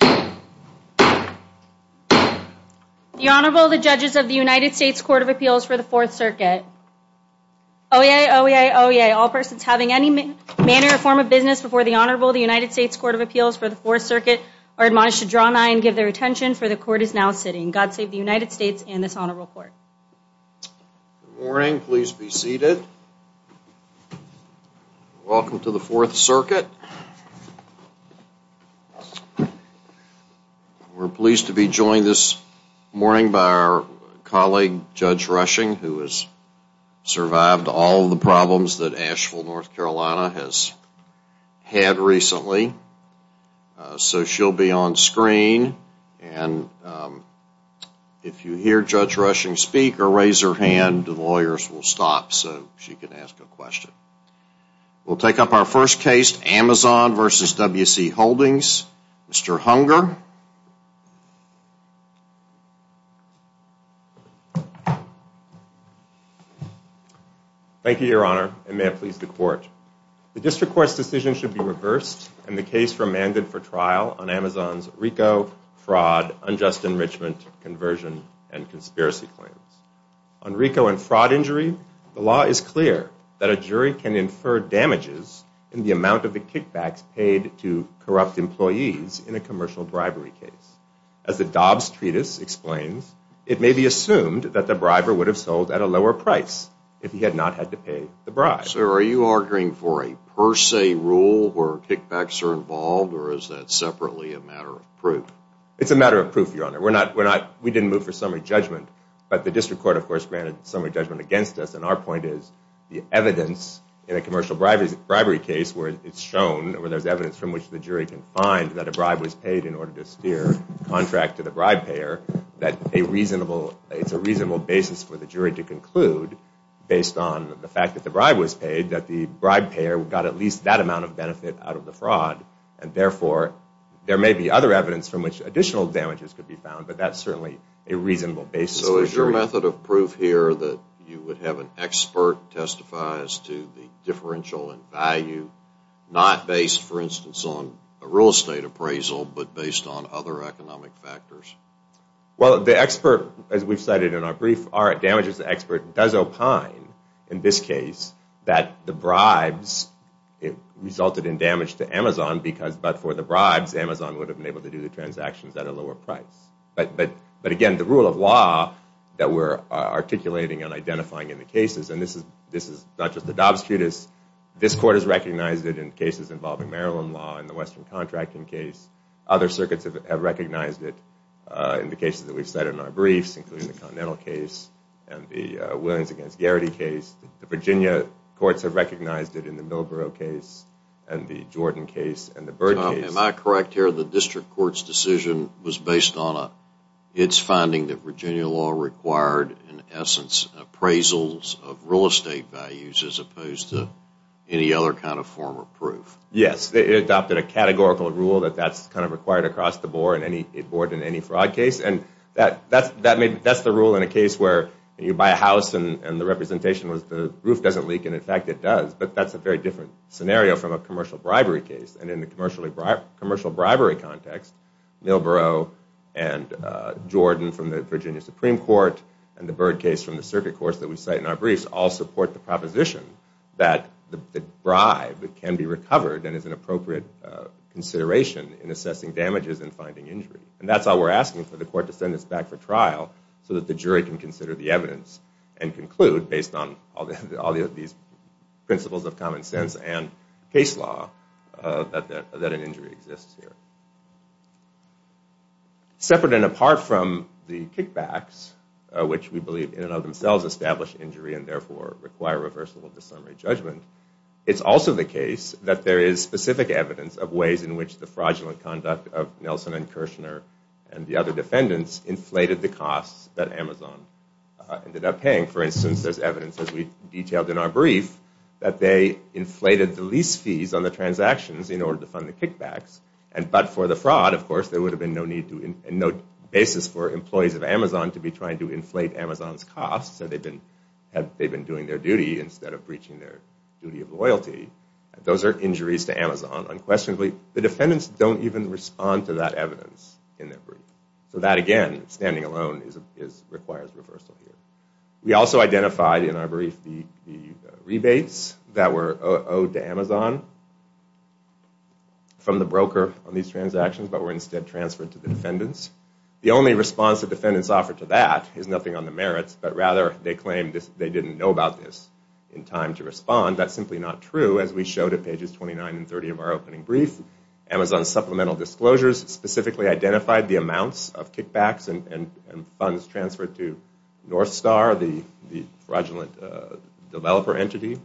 The Honorable, the judges of the United States Court of Appeals for the Fourth Circuit. Oyez, oyez, oyez, all persons having any manner or form of business before the Honorable, the United States Court of Appeals for the Fourth Circuit, are admonished to draw nigh and give their attention, for the Court is now sitting. God save the United States and this Honorable Court. Good morning. Please be seated. Welcome to the Fourth Circuit. We're pleased to be joined this morning by our colleague, Judge Rushing, who has survived all the problems that Asheville, North Carolina, has had recently. So she'll be on screen and if you hear Judge Rushing speak or raise your hand, the lawyers will stop so she can ask a question. We'll take up our first case, Amazon v. W.C. Holdings. Mr. Hunger. Thank you, Your Honor, and may it please the Court. The District Court's decision should be reversed and the case remanded for trial on Amazon's RICO, fraud, unjust enrichment, conversion, and conspiracy claims. On RICO and fraud injury, the law is clear that a jury can infer damages in the amount of the kickbacks paid to corrupt employees in a commercial bribery case. As the Dobbs Treatise explains, it may be assumed that the briber would have sold at a lower price if he had not had to pay the bribe. Sir, are you arguing for a per se rule where kickbacks are involved or is that separately a matter of proof? It's a matter of proof, Your Honor. We didn't move for summary judgment, but the District Court of course granted summary judgment against us and our point is the evidence in a commercial bribery case where it's shown, where there's evidence from which the jury can find that a bribe was paid in order to steer a contract to the bribe payer, that it's a reasonable basis for the jury to conclude based on the fact that the bribe was paid that the bribe payer got at least that amount of benefit out of the fraud. And therefore, there may be other evidence from which additional damages could be found, but that's certainly a reasonable basis for the jury. So is your method of proof here that you would have an expert testify as to the differential in value, not based, for instance, on a real estate appraisal, but based on other economic factors? Well, the expert, as we've cited in our brief, our damages expert does opine in this case that the bribes resulted in damage to Amazon because, but for the bribes, Amazon would have been able to do the transactions at a lower price. But again, the rule of law that we're articulating and identifying in the cases, and this is not just the Dobbs Judas, this court has recognized it in cases involving Maryland law in the Western Contracting case. Other circuits have recognized it in the cases that we've cited in our briefs, including the Continental case and the Williams against Garrity case. The Virginia courts have recognized it in the Millborough case and the Jordan case and the Byrd case. Am I correct here that the district court's decision was based on its finding that Virginia law required, in essence, appraisals of real estate values as opposed to any other kind of form of proof? Yes, it adopted a categorical rule that that's kind of required across the board in any fraud case. And that's the rule in a case where you buy a house and the representation was the roof doesn't leak, and in fact it does. But that's a very different scenario from a commercial bribery case. And in the commercial bribery context, Millborough and Jordan from the Virginia Supreme Court and the Byrd case from the circuit courts that we cite in our briefs all support the proposition that the bribe can be recovered and is an appropriate consideration in assessing damages and finding injury. And that's why we're asking for the court to send this back for trial so that the jury can consider the evidence and conclude based on all these principles of common sense and case law that an injury exists here. Separate and apart from the kickbacks, which we believe in and of themselves establish injury and therefore require reversible dissumary judgment, it's also the case that there is specific evidence of ways in which the fraudulent conduct of Nelson and Kirshner and the other defendants inflated the costs that Amazon ended up paying. For instance, there's evidence, as we detailed in our brief, that they inflated the lease fees on the transactions in order to fund the kickbacks. But for the fraud, of course, there would have been no basis for employees of Amazon to be trying to inflate Amazon's costs had they been doing their duty instead of breaching their duty of loyalty. Those are injuries to Amazon. Unquestionably, the defendants don't even respond to that evidence in their brief. So that, again, standing alone, requires reversal here. We also identified in our brief the rebates that were owed to Amazon from the broker on these transactions but were instead transferred to the defendants. The only response the defendants offered to that is nothing on the merits, but rather they claim they didn't know about this in time to respond. That's simply not true, as we showed at pages 29 and 30 of our opening brief. Amazon's supplemental disclosures specifically identified the amounts of kickbacks and funds transferred to Northstar, the fraudulent developer entity,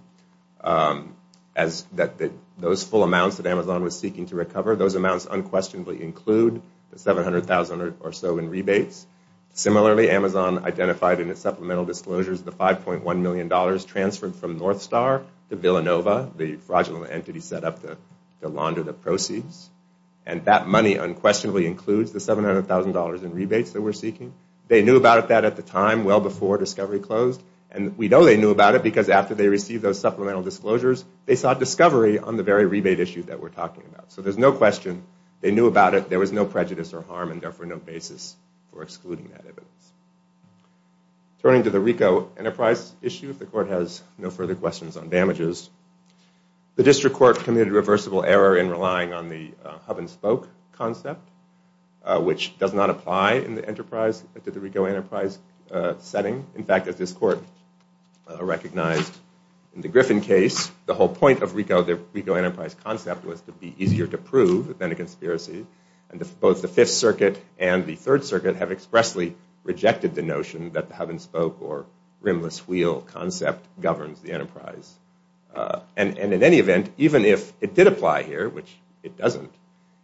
those full amounts that Amazon was seeking to recover. Those amounts unquestionably include the $700,000 or so in rebates. Similarly, Amazon identified in its supplemental disclosures the $5.1 million transferred from Northstar to Villanova, the fraudulent entity set up to launder the proceeds. And that money unquestionably includes the $700,000 in rebates that we're seeking. They knew about that at the time, well before discovery closed. And we know they knew about it because after they received those supplemental disclosures, they saw discovery on the very rebate issue that we're talking about. So there's no question they knew about it. There was no prejudice or harm and therefore no basis for excluding that evidence. Turning to the Ricoh Enterprise issue, if the court has no further questions on damages, the district court committed a reversible error in relying on the hub and spoke concept, which does not apply in the enterprise, to the Ricoh Enterprise setting. In fact, as this court recognized in the Griffin case, the whole point of the Ricoh Enterprise concept was to be easier to prove than a conspiracy. And both the Fifth Circuit and the Third Circuit have expressly rejected the notion that the hub and spoke or rimless wheel concept governs the enterprise. And in any event, even if it did apply here, which it doesn't,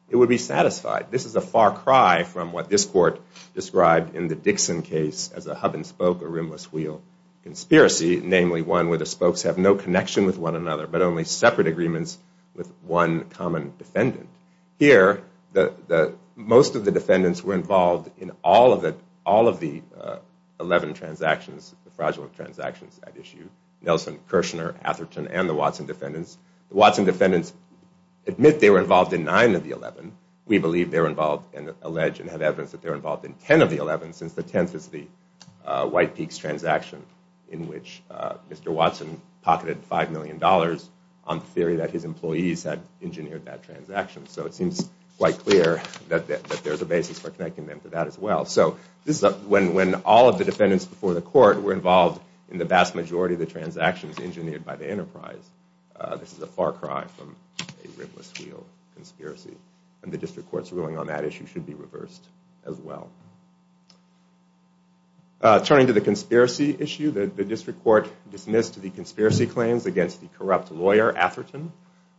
it would be satisfied. This is a far cry from what this court described in the Dixon case as a hub and spoke or rimless wheel conspiracy, namely one where the spokes have no connection with one another, but only separate agreements with one common defendant. Here, most of the defendants were involved in all of the 11 transactions, the fraudulent transactions at issue. Nelson, Kirshner, Atherton, and the Watson defendants. The Watson defendants admit they were involved in 9 of the 11. We believe they were involved and allege and have evidence that they were involved in 10 of the 11 since the 10th is the White Peaks transaction in which Mr. Watson pocketed $5 million on the theory that his employees had engineered that transaction. So it seems quite clear that there's a basis for connecting them to that as well. So when all of the defendants before the court were involved in the vast majority of the transactions engineered by the enterprise, this is a far cry from a rimless wheel conspiracy. And the district court's ruling on that issue should be reversed as well. Turning to the conspiracy issue, the district court dismissed the conspiracy claims against the corrupt lawyer Atherton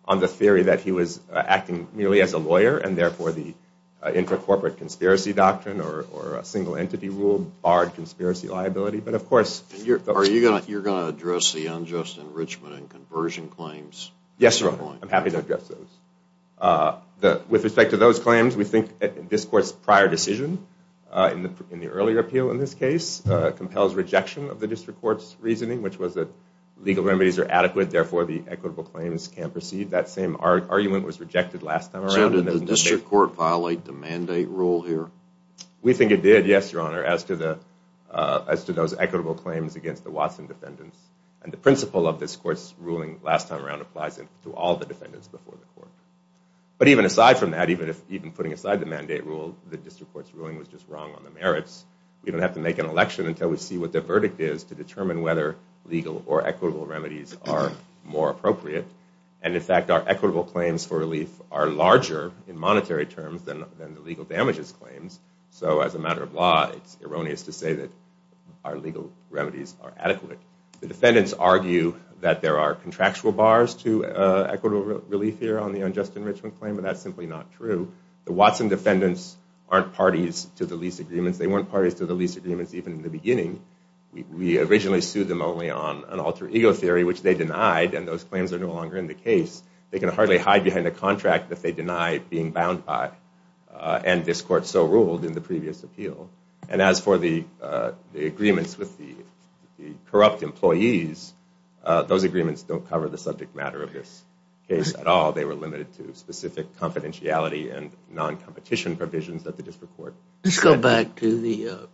on the theory that he was acting merely as a lawyer and therefore the intracorporate conspiracy doctrine or a single entity rule barred conspiracy liability. But of course... Are you going to address the unjust enrichment and conversion claims? Yes, Your Honor. I'm happy to address those. With respect to those claims, we think this court's prior decision in the earlier appeal in this case compels rejection of the district court's reasoning which was that legal remedies are adequate therefore the equitable claims can proceed. That same argument was rejected last time around. So did the district court violate the mandate rule here? We think it did, yes, Your Honor, as to those equitable claims against the Watson defendants. And the principle of this court's ruling last time around applies to all the defendants before the court. But even aside from that, even putting aside the mandate rule, the district court's ruling was just wrong on the merits. We don't have to make an election until we see what the verdict is to determine whether legal or equitable remedies are more appropriate. And in fact, our equitable claims for relief are larger in monetary terms than the legal damages claims. So as a matter of law, it's erroneous to say that our legal remedies are adequate. The defendants argue that there are contractual bars to equitable relief here on the unjust enrichment claim, but that's simply not true. The Watson defendants aren't parties to the lease agreements. They weren't parties to the lease agreements even in the beginning. We originally sued them only on an alter ego theory, which they denied, and those claims are no longer in the case. They can hardly hide behind a contract that they denied being bound by, and this court so ruled in the previous appeal. And as for the agreements with the corrupt employees, those agreements don't cover the subject matter of this case at all. They were limited to specific confidentiality and non-competition provisions at the district court. Let's go back to the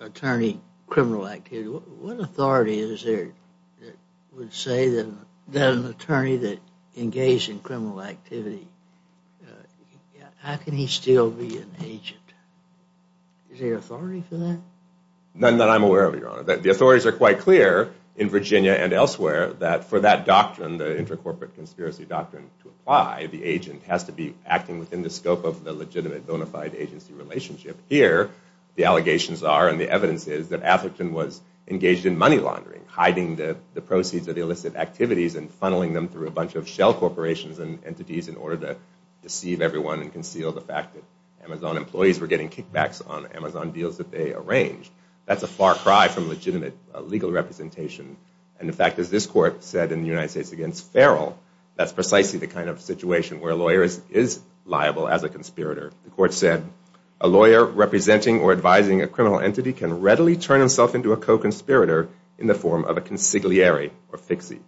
attorney criminal activity. What authority is there that would say that an attorney that engaged in criminal activity, how can he still be an agent? Is there authority for that? None that I'm aware of, Your Honor. The authorities are quite clear in Virginia and elsewhere that for that doctrine, the inter-corporate conspiracy doctrine to apply, the agent has to be acting within the scope of the legitimate bona fide agency relationship. Here, the allegations are and the evidence is that Atherton was engaged in money laundering, hiding the proceeds of the illicit activities and funneling them through a bunch of shell corporations and entities in order to deceive everyone and conceal the fact that Amazon employees were getting kickbacks on Amazon deals that they arranged. That's a far cry from legitimate legal representation. And in fact, as this court said in the United States against Farrell, that's precisely the kind of situation where a lawyer is liable as a conspirator. The court said, a lawyer representing or advising a criminal entity can readily turn himself into a co-conspirator in the form of a consigliere or fixer.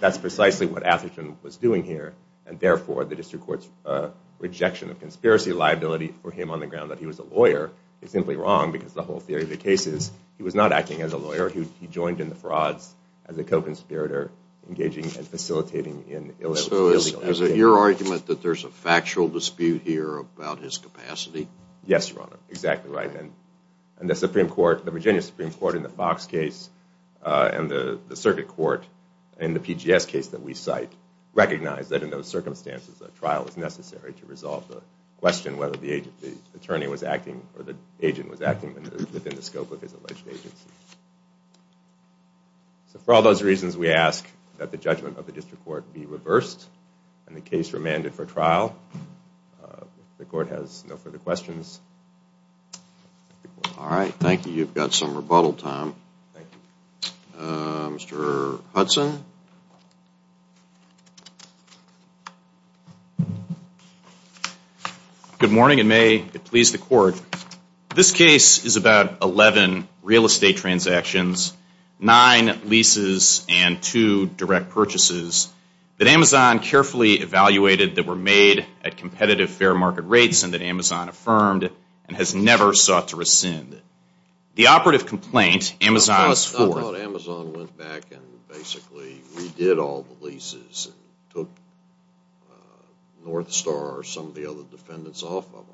That's precisely what Atherton was doing here. And therefore, the district court's rejection of conspiracy liability for him on the ground that he was a lawyer is simply wrong because the whole theory of the case is he was not acting as a lawyer. He joined in the frauds as a co-conspirator, engaging and facilitating in illegal activities. So is it your argument that there's a factual dispute here about his capacity? Yes, Your Honor. Exactly right. And the Virginia Supreme Court in the Fox case and the circuit court in the PGS case that we cite recognize that in those circumstances, a trial is necessary to resolve the question whether the attorney was acting or the agent was acting within the scope of his alleged agency. So for all those reasons, we ask that the judgment of the district court be reversed and the case remanded for trial. If the court has no further questions. All right. Thank you. You've got some rebuttal time. Thank you. Mr. Hudson. Good morning and may it please the court. This case is about 11 real estate transactions, 9 leases and 2 direct purchases that Amazon carefully evaluated that were made at competitive fair market rates and that Amazon affirmed and has never sought to rescind. The operative complaint Amazon was for. I thought Amazon went back and basically redid all the leases and took North Star or some of the other defendants off of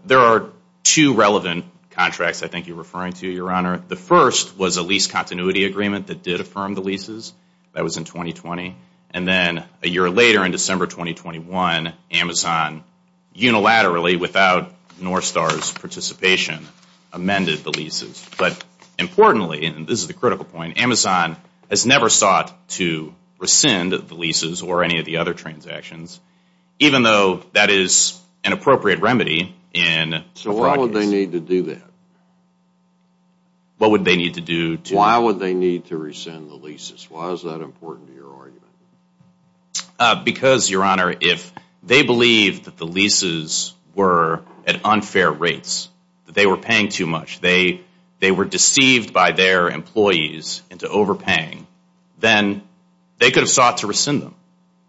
them. There are two relevant contracts I think you're referring to, Your Honor. The first was a lease continuity agreement that did affirm the leases. That was in 2020. And then a year later in December 2021, Amazon unilaterally, without North Star's participation, amended the leases. But importantly, and this is the critical point, Amazon has never sought to rescind the leases or any of the other transactions, even though that is an appropriate remedy. So why would they need to do that? Why would they need to rescind the leases? Why is that important to your argument? Because, Your Honor, if they believed that the leases were at unfair rates, that they were paying too much, they were deceived by their employees into overpaying, then they could have sought to rescind them.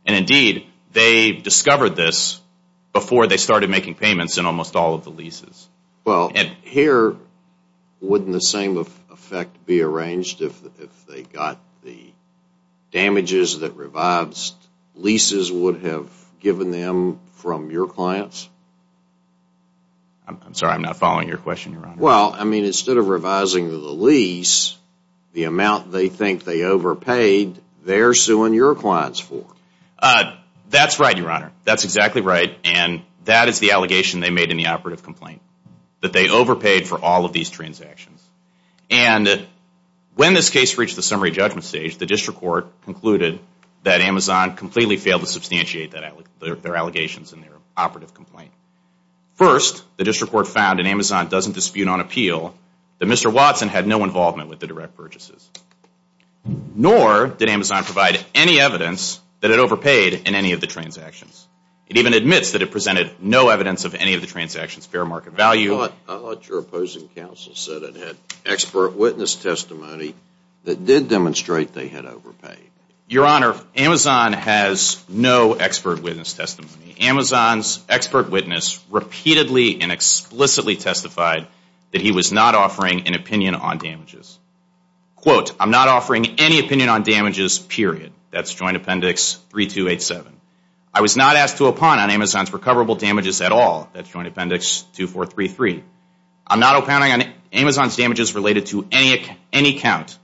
And indeed, they discovered this before they started making payments in almost all of the leases. Well, here, wouldn't the same effect be arranged if they got the damages that revised leases would have given them from your clients? I'm sorry. I'm not following your question, Your Honor. Well, I mean, instead of revising the lease, the amount they think they overpaid, they're suing your clients for. That's right, Your Honor. That's exactly right. And that is the allegation they made in the operative complaint, that they overpaid for all of these transactions. And when this case reached the summary judgment stage, the district court concluded that Amazon completely failed to substantiate their allegations in their operative complaint. First, the district court found that Amazon doesn't dispute on appeal, that Mr. Watson had no involvement with the direct purchases. Nor did Amazon provide any evidence that it overpaid in any of the transactions. It even admits that it presented no evidence of any of the transactions' fair market value. I thought your opposing counsel said it had expert witness testimony that did demonstrate they had overpaid. Your Honor, Amazon has no expert witness testimony. Amazon's expert witness repeatedly and explicitly testified that he was not offering an opinion on damages. Quote, I'm not offering any opinion on damages, period. That's Joint Appendix 3287. I was not asked to opine on Amazon's recoverable damages at all. That's Joint Appendix 2433. I'm not opining on Amazon's damages related to any account.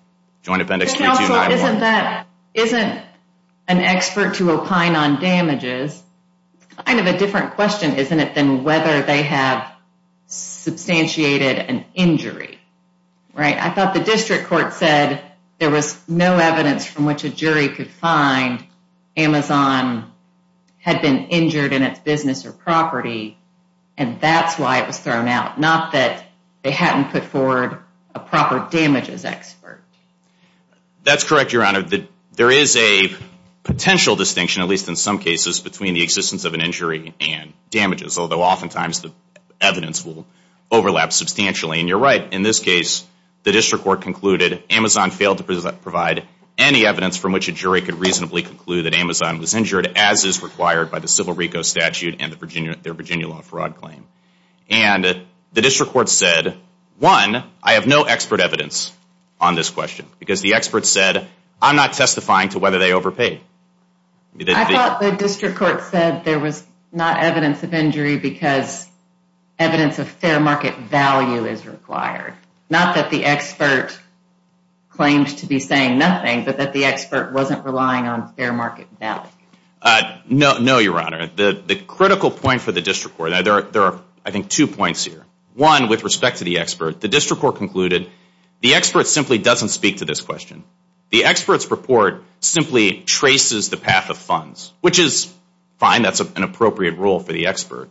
Joint Appendix 3291. Isn't an expert to opine on damages kind of a different question, isn't it, than whether they have substantiated an injury, right? I thought the district court said there was no evidence from which a jury could find Amazon had been injured in its business or property, and that's why it was thrown out, not that they hadn't put forward a proper damages expert. That's correct, Your Honor. There is a potential distinction, at least in some cases, between the existence of an injury and damages, although oftentimes the evidence will overlap substantially. And you're right. In this case, the district court concluded Amazon failed to provide any evidence from which a jury could reasonably conclude that Amazon was injured, as is required by the civil RICO statute and their Virginia law fraud claim. And the district court said, one, I have no expert evidence on this question because the expert said I'm not testifying to whether they overpaid. I thought the district court said there was not evidence of injury because evidence of fair market value is required, not that the expert claims to be saying nothing, but that the expert wasn't relying on fair market value. No, Your Honor. The critical point for the district court, there are, I think, two points here. One, with respect to the expert, the district court concluded the expert simply doesn't speak to this question. The expert's report simply traces the path of funds, which is fine. That's an appropriate rule for the expert.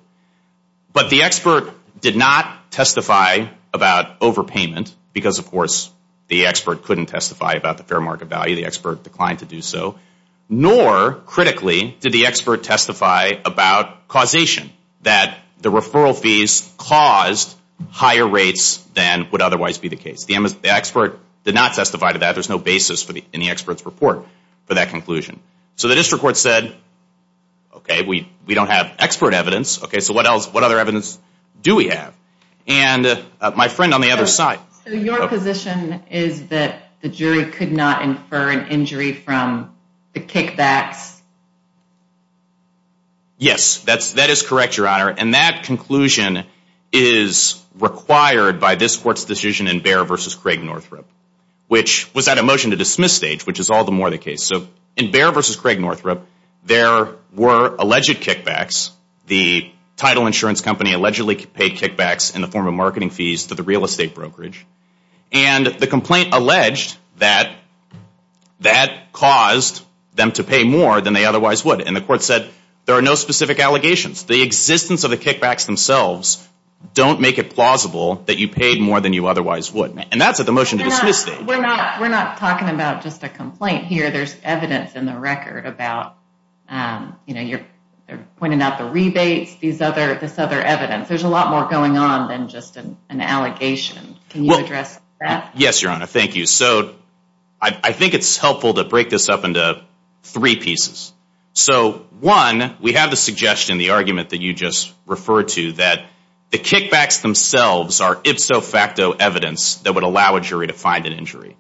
But the expert did not testify about overpayment because, of course, the expert couldn't testify about the fair market value. The expert declined to do so. Nor, critically, did the expert testify about causation, that the referral fees caused higher rates than would otherwise be the case. The expert did not testify to that. There's no basis in the expert's report for that conclusion. So the district court said, okay, we don't have expert evidence. Okay, so what other evidence do we have? And my friend on the other side. So your position is that the jury could not infer an injury from the kickbacks? Yes, that is correct, Your Honor. And that conclusion is required by this court's decision in Behr v. Craig-Northrup, which was at a motion-to-dismiss stage, which is all the more the case. So in Behr v. Craig-Northrup, there were alleged kickbacks. The title insurance company allegedly paid kickbacks in the form of marketing fees to the real estate brokerage. And the complaint alleged that that caused them to pay more than they otherwise would. And the court said there are no specific allegations. The existence of the kickbacks themselves don't make it plausible that you paid more than you otherwise would. And that's at the motion-to-dismiss stage. We're not talking about just a complaint here. There's evidence in the record about, you know, they're pointing out the rebates, this other evidence. There's a lot more going on than just an allegation. Can you address that? Yes, Your Honor, thank you. So I think it's helpful to break this up into three pieces. So one, we have the suggestion, the argument that you just referred to, that the kickbacks themselves are ifso facto evidence that would allow a jury to find an injury.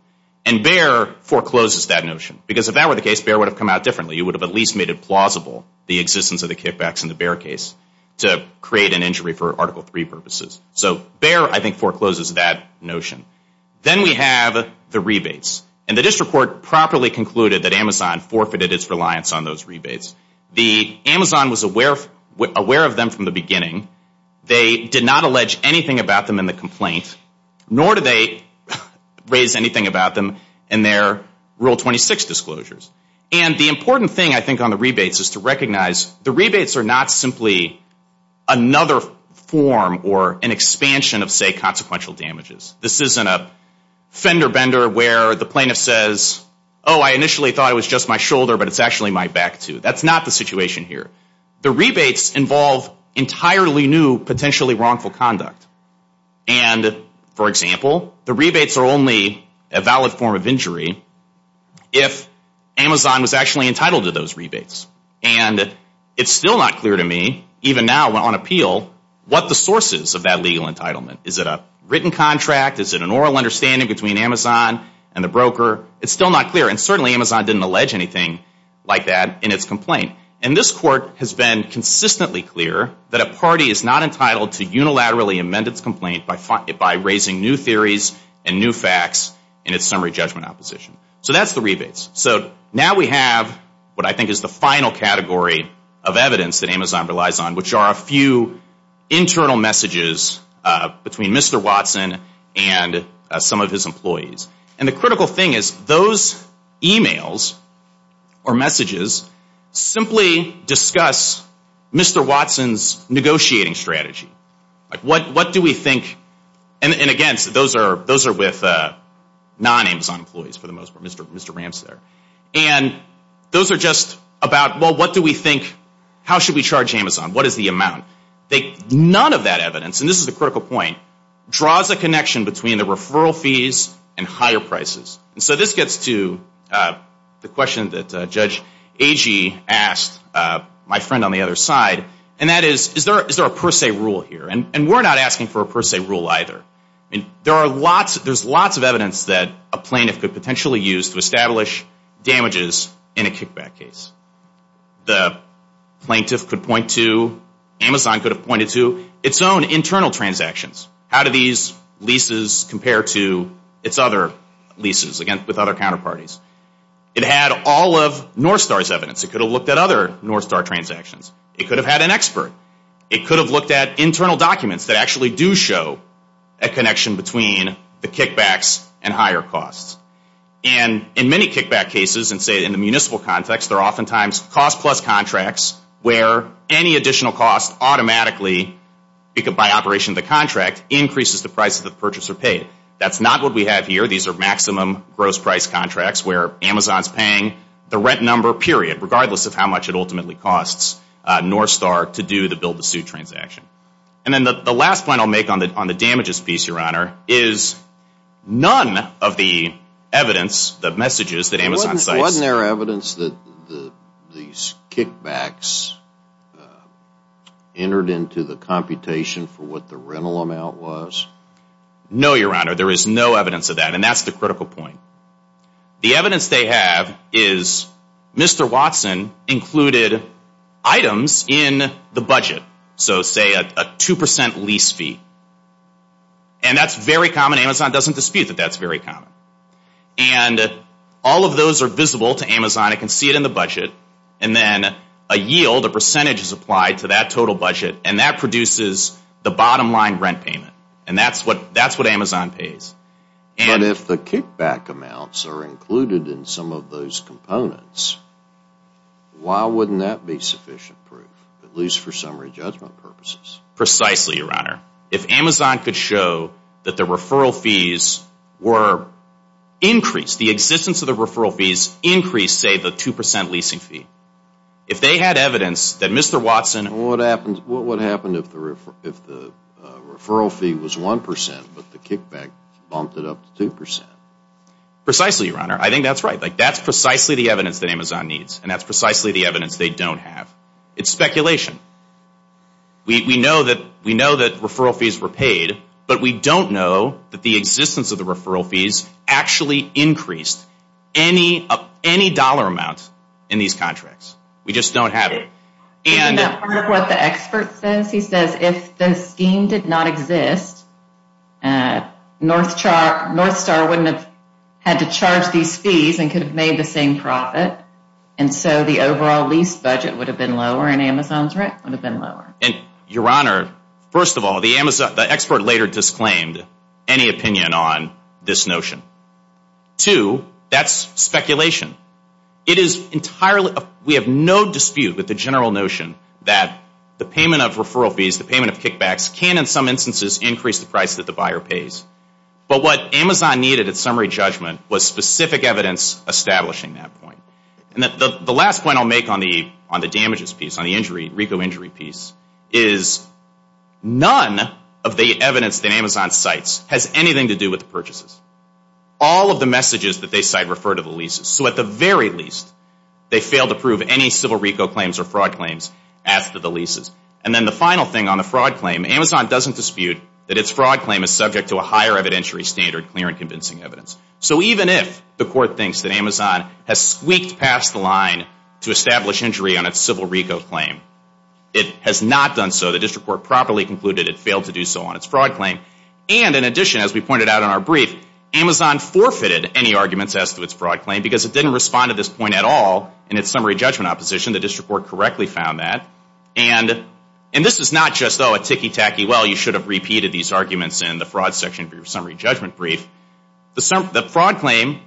And Behr forecloses that notion. Because if that were the case, Behr would have come out differently. He would have at least made it plausible, the existence of the kickbacks in the Behr case, to create an injury for Article III purposes. So Behr, I think, forecloses that notion. Then we have the rebates. And the district court properly concluded that Amazon forfeited its reliance on those rebates. The Amazon was aware of them from the beginning. They did not allege anything about them in the complaint, nor did they raise anything about them in their Rule 26 disclosures. And the important thing, I think, on the rebates is to recognize the rebates are not simply another form or an expansion of, say, consequential damages. This isn't a fender bender where the plaintiff says, oh, I initially thought it was just my shoulder, but it's actually my back, too. That's not the situation here. The rebates involve entirely new potentially wrongful conduct. And, for example, the rebates are only a valid form of injury if Amazon was actually entitled to those rebates. And it's still not clear to me, even now on appeal, what the source is of that legal entitlement. Is it a written contract? Is it an oral understanding between Amazon and the broker? It's still not clear. And certainly Amazon didn't allege anything like that in its complaint. And this court has been consistently clear that a party is not entitled to unilaterally amend its complaint by raising new theories and new facts in its summary judgment opposition. So that's the rebates. So now we have what I think is the final category of evidence that Amazon relies on, which are a few internal messages between Mr. Watson and some of his employees. And the critical thing is those emails or messages simply discuss Mr. Watson's negotiating strategy. Like, what do we think? And, again, those are with non-Amazon employees for the most part, Mr. Ramsey there. And those are just about, well, what do we think, how should we charge Amazon, what is the amount? None of that evidence, and this is a critical point, draws a connection between the referral fees and higher prices. And so this gets to the question that Judge Agee asked my friend on the other side, and that is, is there a per se rule here? And we're not asking for a per se rule either. There's lots of evidence that a plaintiff could potentially use to establish damages in a kickback case. The plaintiff could point to, Amazon could have pointed to, its own internal transactions. How do these leases compare to its other leases with other counterparties? It had all of Northstar's evidence. It could have looked at other Northstar transactions. It could have had an expert. It could have looked at internal documents that actually do show a connection between the kickbacks and higher costs. And in many kickback cases, and say in the municipal context, there are oftentimes cost plus contracts where any additional cost automatically, by operation of the contract, increases the price that the purchaser paid. That's not what we have here. These are maximum gross price contracts where Amazon's paying the rent number period, regardless of how much it ultimately costs Northstar to do the build the suit transaction. And then the last point I'll make on the damages piece, Your Honor, is none of the evidence, the messages that Amazon cites. Wasn't there evidence that these kickbacks entered into the computation for what the rental amount was? No, Your Honor, there is no evidence of that, and that's the critical point. The evidence they have is Mr. Watson included items in the budget, so say a 2% lease fee. And that's very common. Amazon doesn't dispute that that's very common. And all of those are visible to Amazon. It can see it in the budget. And then a yield, a percentage is applied to that total budget, and that produces the bottom line rent payment. And that's what Amazon pays. But if the kickback amounts are included in some of those components, why wouldn't that be sufficient proof, at least for summary judgment purposes? Precisely, Your Honor. If Amazon could show that the referral fees were increased, the existence of the referral fees increased, say, the 2% leasing fee, if they had evidence that Mr. Watson... What happens if the referral fee was 1% but the kickback bumped it up to 2%? Precisely, Your Honor. I think that's right. That's precisely the evidence that Amazon needs, and that's precisely the evidence they don't have. It's speculation. We know that referral fees were paid, but we don't know that the existence of the referral fees actually increased any dollar amount in these contracts. We just don't have it. Isn't that part of what the expert says? He says if the scheme did not exist, Northstar wouldn't have had to charge these fees and could have made the same profit, and so the overall lease budget would have been lower and Amazon's rent would have been lower. Your Honor, first of all, the expert later disclaimed any opinion on this notion. Two, that's speculation. We have no dispute with the general notion that the payment of referral fees, the payment of kickbacks, can, in some instances, increase the price that the buyer pays. But what Amazon needed at summary judgment was specific evidence establishing that point. And the last point I'll make on the damages piece, on the RICO injury piece, is none of the evidence that Amazon cites has anything to do with the purchases. All of the messages that they cite refer to the leases. So at the very least, they failed to prove any civil RICO claims or fraud claims after the leases. And then the final thing on the fraud claim, Amazon doesn't dispute that its fraud claim is subject to a higher evidentiary standard, clear and convincing evidence. So even if the Court thinks that Amazon has squeaked past the line to establish injury on its civil RICO claim, it has not done so. The district court properly concluded it failed to do so on its fraud claim. And in addition, as we pointed out in our brief, Amazon forfeited any arguments as to its fraud claim because it didn't respond to this point at all in its summary judgment opposition. The district court correctly found that. And this is not just, oh, a ticky-tacky, well, you should have repeated these arguments in the fraud section of your summary judgment brief. The fraud claim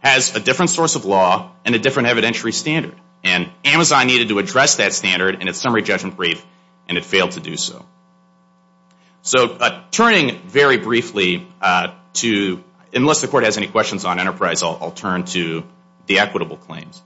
has a different source of law and a different evidentiary standard. And Amazon needed to address that standard in its summary judgment brief, and it failed to do so. So turning very briefly to, unless the Court has any questions on Enterprise, I'll turn to the equitable claims.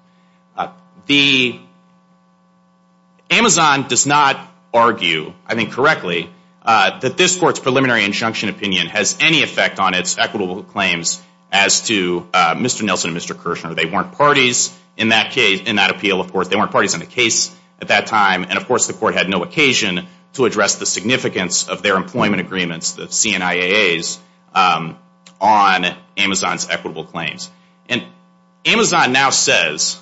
Amazon does not argue, I think correctly, that this Court's preliminary injunction opinion has any effect on its equitable claims as to Mr. Nelson and Mr. Kirshner. They weren't parties in that appeal, of course. They weren't parties in the case at that time. And, of course, the Court had no occasion to address the significance of their employment agreements, the CNIAAs, on Amazon's equitable claims. And Amazon now says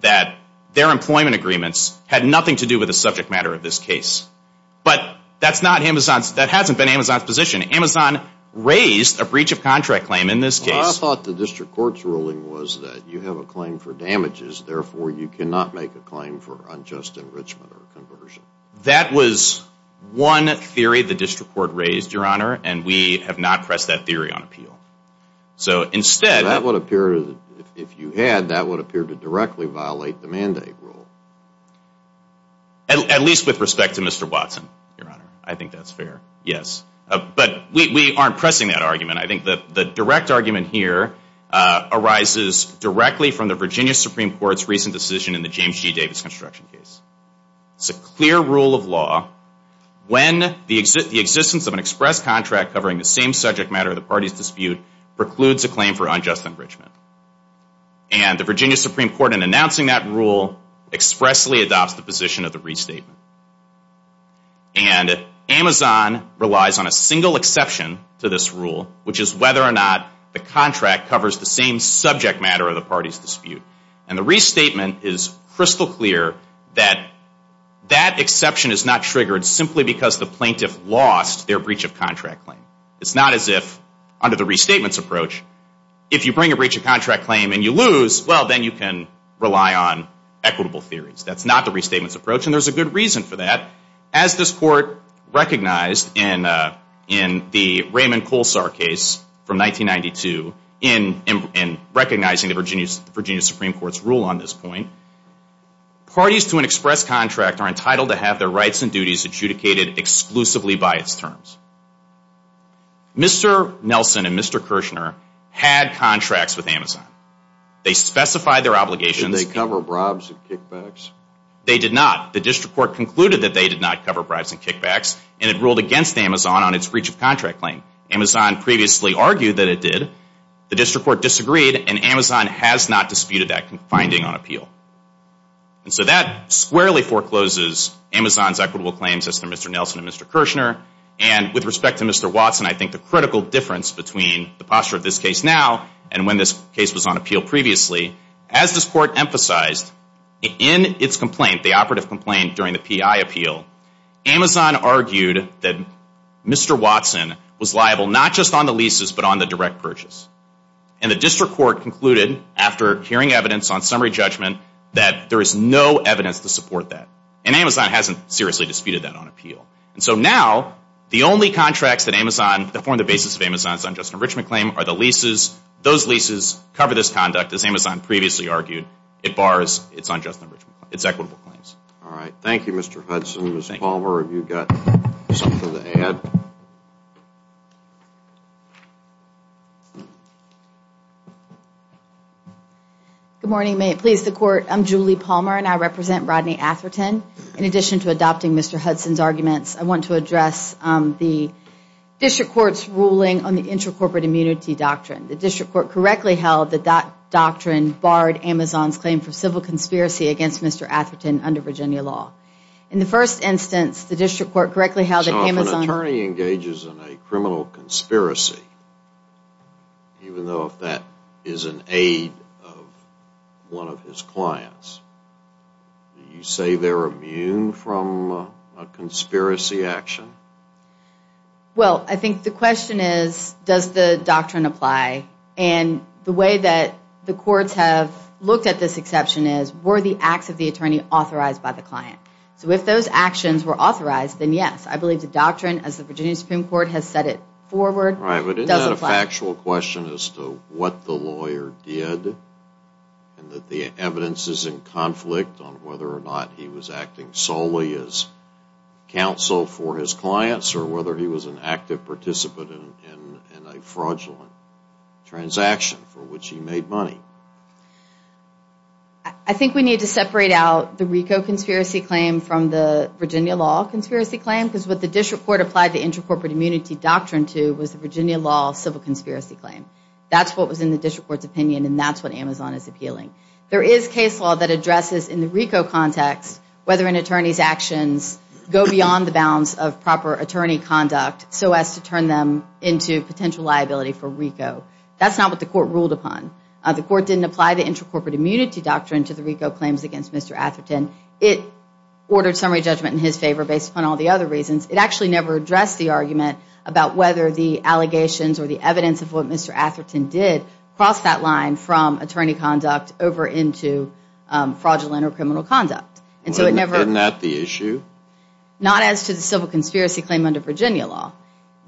that their employment agreements had nothing to do with the subject matter of this case. But that's not Amazon's, that hasn't been Amazon's position. Amazon raised a breach of contract claim in this case. Well, I thought the district court's ruling was that you have a claim for damages, therefore you cannot make a claim for unjust enrichment or conversion. That was one theory the district court raised, Your Honor, and we have not pressed that theory on appeal. If you had, that would appear to directly violate the mandate rule. At least with respect to Mr. Watson, Your Honor. I think that's fair, yes. But we aren't pressing that argument. I think the direct argument here arises directly from the Virginia Supreme Court's recent decision in the James G. Davis construction case. It's a clear rule of law. When the existence of an express contract covering the same subject matter of the party's dispute precludes a claim for unjust enrichment. And the Virginia Supreme Court, in announcing that rule, expressly adopts the position of the restatement. And Amazon relies on a single exception to this rule, which is whether or not the contract covers the same subject matter of the party's dispute. And the restatement is crystal clear that that exception is not triggered simply because the plaintiff lost their breach of contract claim. It's not as if, under the restatement's approach, if you bring a breach of contract claim and you lose, well, then you can rely on equitable theories. That's not the restatement's approach, and there's a good reason for that. As this court recognized in the Raymond Kolsar case from 1992, in recognizing the Virginia Supreme Court's rule on this point, parties to an express contract are entitled to have their rights and duties adjudicated exclusively by its terms. Mr. Nelson and Mr. Kirshner had contracts with Amazon. They specified their obligations. Did they cover bribes and kickbacks? They did not. The district court concluded that they did not cover bribes and kickbacks, and it ruled against Amazon on its breach of contract claim. Amazon previously argued that it did. The district court disagreed, and Amazon has not disputed that finding on appeal. And so that squarely forecloses Amazon's equitable claims as to Mr. Nelson and Mr. Kirshner, and with respect to Mr. Watson, I think the critical difference between the posture of this case now and when this case was on appeal previously, as this court emphasized, in its complaint, the operative complaint during the PI appeal, Amazon argued that Mr. Watson was liable not just on the leases but on the direct purchase. And the district court concluded, after hearing evidence on summary judgment, that there is no evidence to support that. And Amazon hasn't seriously disputed that on appeal. And so now the only contracts that form the basis of Amazon's unjust enrichment claim are the leases. Those leases cover this conduct, as Amazon previously argued. It bars its unjust enrichment claim, its equitable claims. All right. Thank you, Mr. Hudson. Ms. Palmer, have you got something to add? Good morning. May it please the Court? I'm Julie Palmer, and I represent Rodney Atherton. In addition to adopting Mr. Hudson's arguments, I want to address the district court's ruling on the intercorporate immunity doctrine. The district court correctly held that that doctrine barred Amazon's claim for civil conspiracy against Mr. Atherton under Virginia law. In the first instance, the district court correctly held that Amazon... So if an attorney engages in a criminal conspiracy, even though if that is an aid of one of his clients, do you say they're immune from a conspiracy action? Well, I think the question is, does the doctrine apply? And the way that the courts have looked at this exception is, were the acts of the attorney authorized by the client? So if those actions were authorized, then yes. I believe the doctrine, as the Virginia Supreme Court has set it forward, doesn't apply. Right, but isn't that a factual question as to what the lawyer did and that the evidence is in conflict on whether or not he was acting solely as counsel for his clients or whether he was an active participant in a fraudulent transaction for which he made money? I think we need to separate out the RICO conspiracy claim from the Virginia law conspiracy claim because what the district court applied the intercorporate immunity doctrine to was the Virginia law civil conspiracy claim. That's what was in the district court's opinion and that's what Amazon is appealing. There is case law that addresses in the RICO context whether an attorney's actions go beyond the bounds of proper attorney conduct so as to turn them into potential liability for RICO. That's not what the court ruled upon. The court didn't apply the intercorporate immunity doctrine to the RICO claims against Mr. Atherton. It ordered summary judgment in his favor based upon all the other reasons. It actually never addressed the argument about whether the allegations or the evidence of what Mr. Atherton did crossed that line from attorney conduct over into fraudulent or criminal conduct. Isn't that the issue? Not as to the civil conspiracy claim under Virginia law.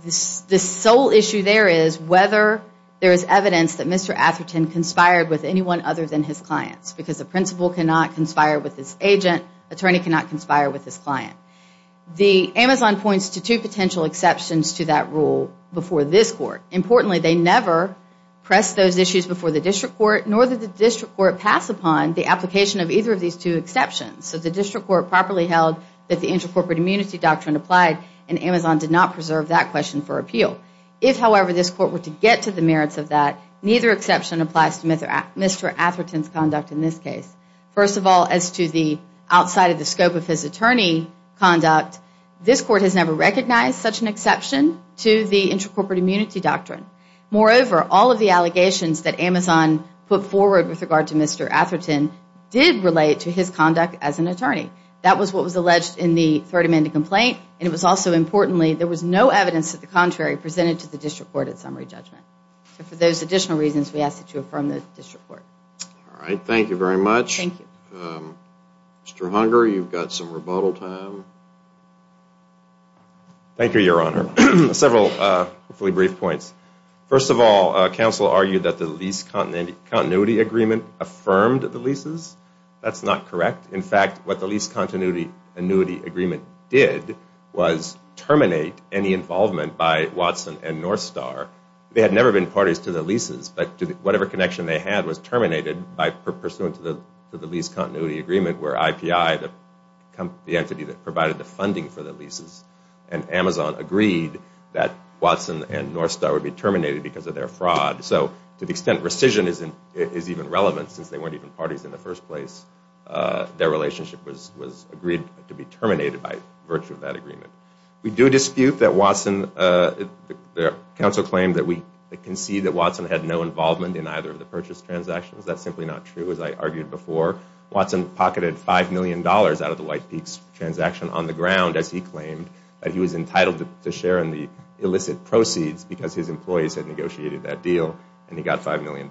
The sole issue there is whether there is evidence that Mr. Atherton conspired with anyone other than his clients because a principal cannot conspire with his agent, an attorney cannot conspire with his client. Amazon points to two potential exceptions to that rule before this court. Importantly, they never press those issues before the district court nor did the district court pass upon the application of either of these two exceptions. So the district court properly held that the intercorporate immunity doctrine applied and Amazon did not preserve that question for appeal. If, however, this court were to get to the merits of that, neither exception applies to Mr. Atherton's conduct in this case. First of all, as to the outside of the scope of his attorney conduct, this court has never recognized such an exception to the intercorporate immunity doctrine. Moreover, all of the allegations that Amazon put forward with regard to Mr. Atherton did relate to his conduct as an attorney. That was what was alleged in the third amended complaint. And it was also, importantly, there was no evidence of the contrary presented to the district court at summary judgment. For those additional reasons, we ask that you affirm the district court. All right. Thank you very much. Mr. Hunger, you've got some rebuttal time. Thank you, Your Honor. Several briefly brief points. First of all, counsel argued that the lease continuity agreement affirmed the leases. That's not correct. In fact, what the lease continuity agreement did was terminate any involvement by Watson and Northstar. They had never been parties to the leases, but whatever connection they had was terminated by pursuant to the lease continuity agreement where IPI, the entity that provided the funding for the leases, and Amazon agreed that Watson and Northstar would be terminated because of their fraud. So to the extent rescission is even relevant, since they weren't even parties in the first place, their relationship was agreed to be terminated by virtue of that agreement. We do dispute that Watson, counsel claimed that we concede that Watson had no involvement in either of the purchase transactions. That's simply not true, as I argued before. Watson pocketed $5 million out of the White Peaks transaction on the ground, as he claimed that he was entitled to share in the illicit proceeds because his employees had negotiated that deal, and he got $5 million.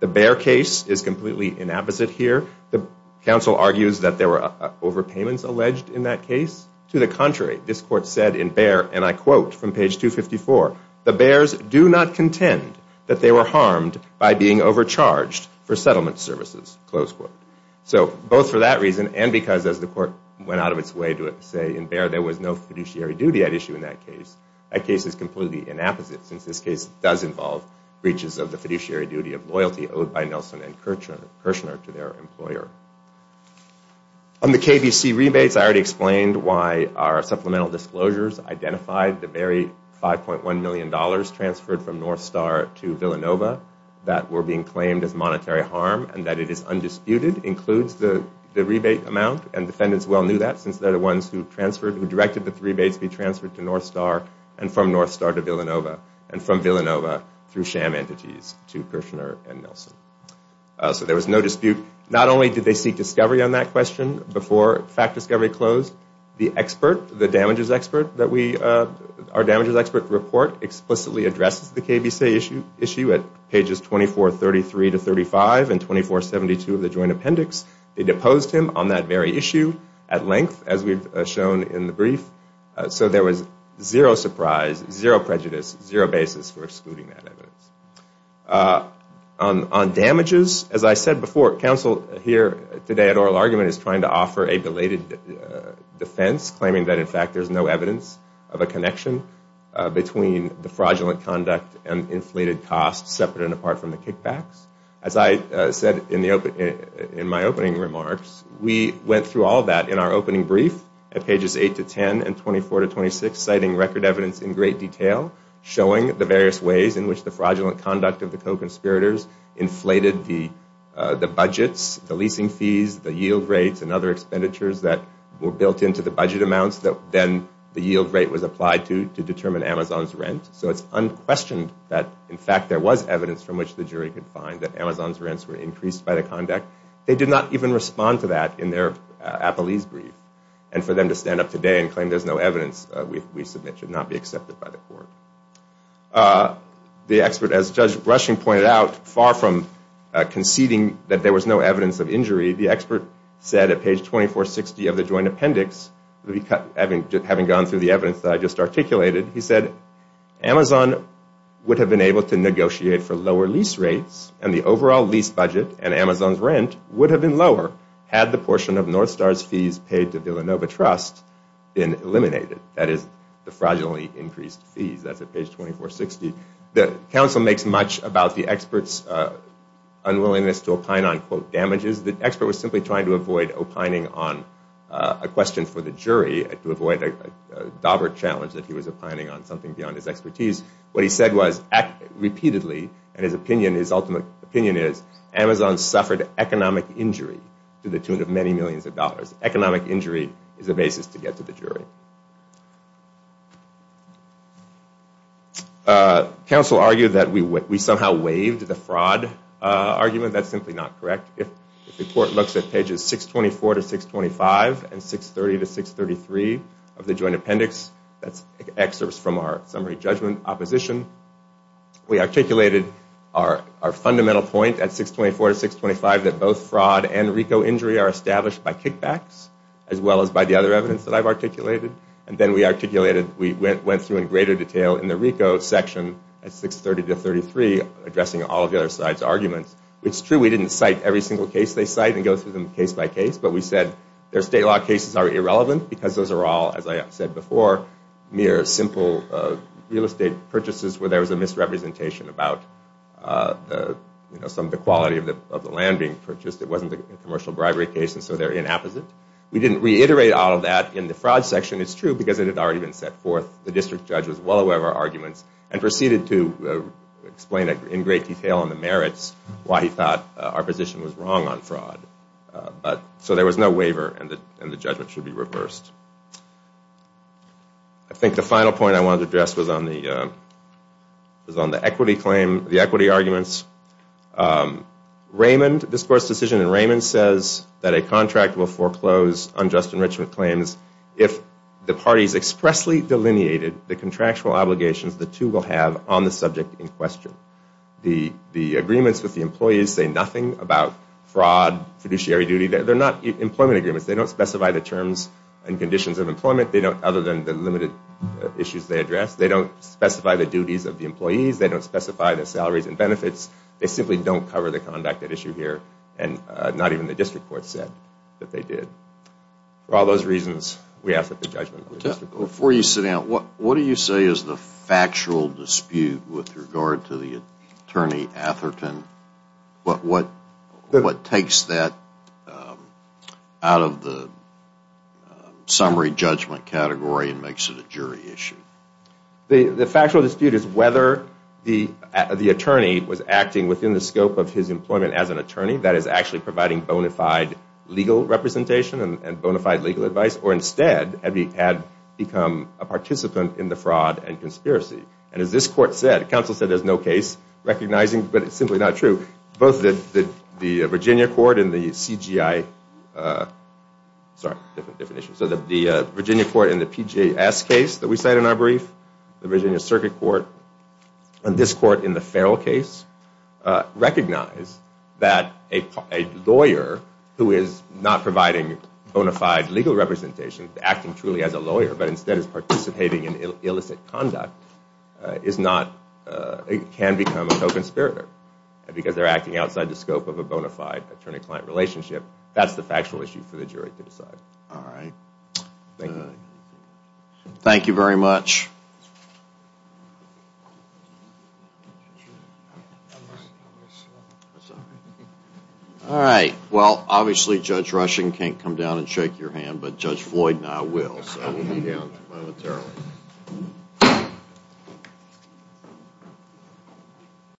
The Bear case is completely inapposite here. The counsel argues that there were overpayments alleged in that case. To the contrary, this court said in Bear, and I quote from page 254, the Bears do not contend that they were harmed by being overcharged for settlement services, close quote. So both for that reason and because as the court went out of its way to say in Bear there was no fiduciary duty at issue in that case, that case is completely inapposite since this case does involve breaches of the fiduciary duty of loyalty owed by Nelson and Kirchner to their employer. On the KBC rebates, I already explained why our supplemental disclosures identified the very $5.1 million transferred from Northstar to Villanova that were being claimed as monetary harm and that it is undisputed, includes the rebate amount, and defendants well knew that since they're the ones who transferred, who directed that the rebates be transferred to Northstar and from Northstar to Villanova, and from Villanova through sham entities to Kirchner and Nelson. So there was no dispute. Not only did they seek discovery on that question before fact discovery closed, the expert, the damages expert that we, our damages expert report explicitly addresses the KBC issue at pages 2433 to 35 and 2472 of the joint appendix. It deposed him on that very issue at length as we've shown in the brief. So there was zero surprise, zero prejudice, zero basis for excluding that evidence. On damages, as I said before, counsel here today at oral argument is trying to offer a belated defense claiming that in fact there's no evidence of a connection between the fraudulent conduct and inflated costs separate and apart from the kickbacks. As I said in my opening remarks, we went through all of that in our opening brief at pages 8 to 10 and 24 to 26, citing record evidence in great detail showing the various ways in which the fraudulent conduct of the co-conspirators inflated the budgets, the leasing fees, the yield rates, and other expenditures that were built into the budget amounts that then the yield rate was applied to to determine Amazon's rent. So it's unquestioned that in fact there was evidence from which the jury could find that Amazon's rents were increased by the conduct. They did not even respond to that in their appellee's brief. And for them to stand up today and claim there's no evidence we submit should not be accepted by the court. The expert, as Judge Rushing pointed out, far from conceding that there was no evidence of injury, the expert said at page 2460 of the joint appendix, having gone through the evidence that I just articulated, he said, Amazon would have been able to negotiate for lower lease rates and the overall lease budget and Amazon's rent would have been lower had the portion of Northstar's fees paid to Villanova Trust been eliminated. That is, the fraudulently increased fees. That's at page 2460. The counsel makes much about the expert's unwillingness to opine on, quote, damages. The expert was simply trying to avoid opining on a question for the jury, to avoid a dauber challenge that he was opining on something beyond his expertise. What he said was, repeatedly, and his opinion, his ultimate opinion is, Amazon suffered economic injury to the tune of many millions of dollars. Economic injury is the basis to get to the jury. Counsel argued that we somehow waived the fraud argument. That's simply not correct. If the court looks at pages 624 to 625 and 630 to 633 of the joint appendix, that's excerpts from our summary judgment opposition, we articulated our fundamental point at 624 to 625 that both fraud and RICO injury are established by kickbacks as well as by the other evidence that I've articulated. And then we articulated, we went through in greater detail in the RICO section at 630 to 633 addressing all of the other side's arguments. It's true we didn't cite every single case they cite and go through them case by case, but we said their state law cases are irrelevant because those are all, as I said before, mere simple real estate purchases where there was a misrepresentation about some of the quality of the land being purchased. It wasn't a commercial bribery case, and so they're inapposite. We didn't reiterate all of that in the fraud section. It's true because it had already been set forth. The district judge was well aware of our arguments and proceeded to explain in great detail on the merits why he thought our position was wrong on fraud. So there was no waiver and the judgment should be reversed. I think the final point I wanted to address was on the equity claim, the equity arguments. Raymond, this court's decision in Raymond says that a contract will foreclose unjust enrichment claims if the parties expressly delineated the contractual obligations the two will have on the subject in question. The agreements with the employees say nothing about fraud, fiduciary duty. They're not employment agreements. They don't specify the terms and conditions of employment, other than the limited issues they address. They don't specify the duties of the employees. They don't specify the salaries and benefits. They simply don't cover the conduct at issue here, and not even the district court said that they did. For all those reasons, we ask that the judgment be reversed. Before you sit down, what do you say is the factual dispute with regard to the attorney Atherton? What takes that out of the summary judgment category and makes it a jury issue? The factual dispute is whether the attorney was acting within the scope of his employment as an attorney, that is, actually providing bona fide legal representation and bona fide legal advice, or instead had become a participant in the fraud and conspiracy. And as this court said, the counsel said there's no case recognizing, but it's simply not true, both the Virginia court in the CGI, sorry, different definition, so the Virginia court in the PGS case that we cite in our brief, the Virginia circuit court, and this court in the Farrell case, recognize that a lawyer who is not providing bona fide legal representation, acting truly as a lawyer, but instead is participating in illicit conduct, is not, can become a co-conspirator, because they're acting outside the scope of a bona fide attorney-client relationship. That's the factual issue for the jury to decide. All right. Thank you. Thank you very much. All right. Well, obviously Judge Rushing can't come down and shake your hand, but Judge Floyd and I will.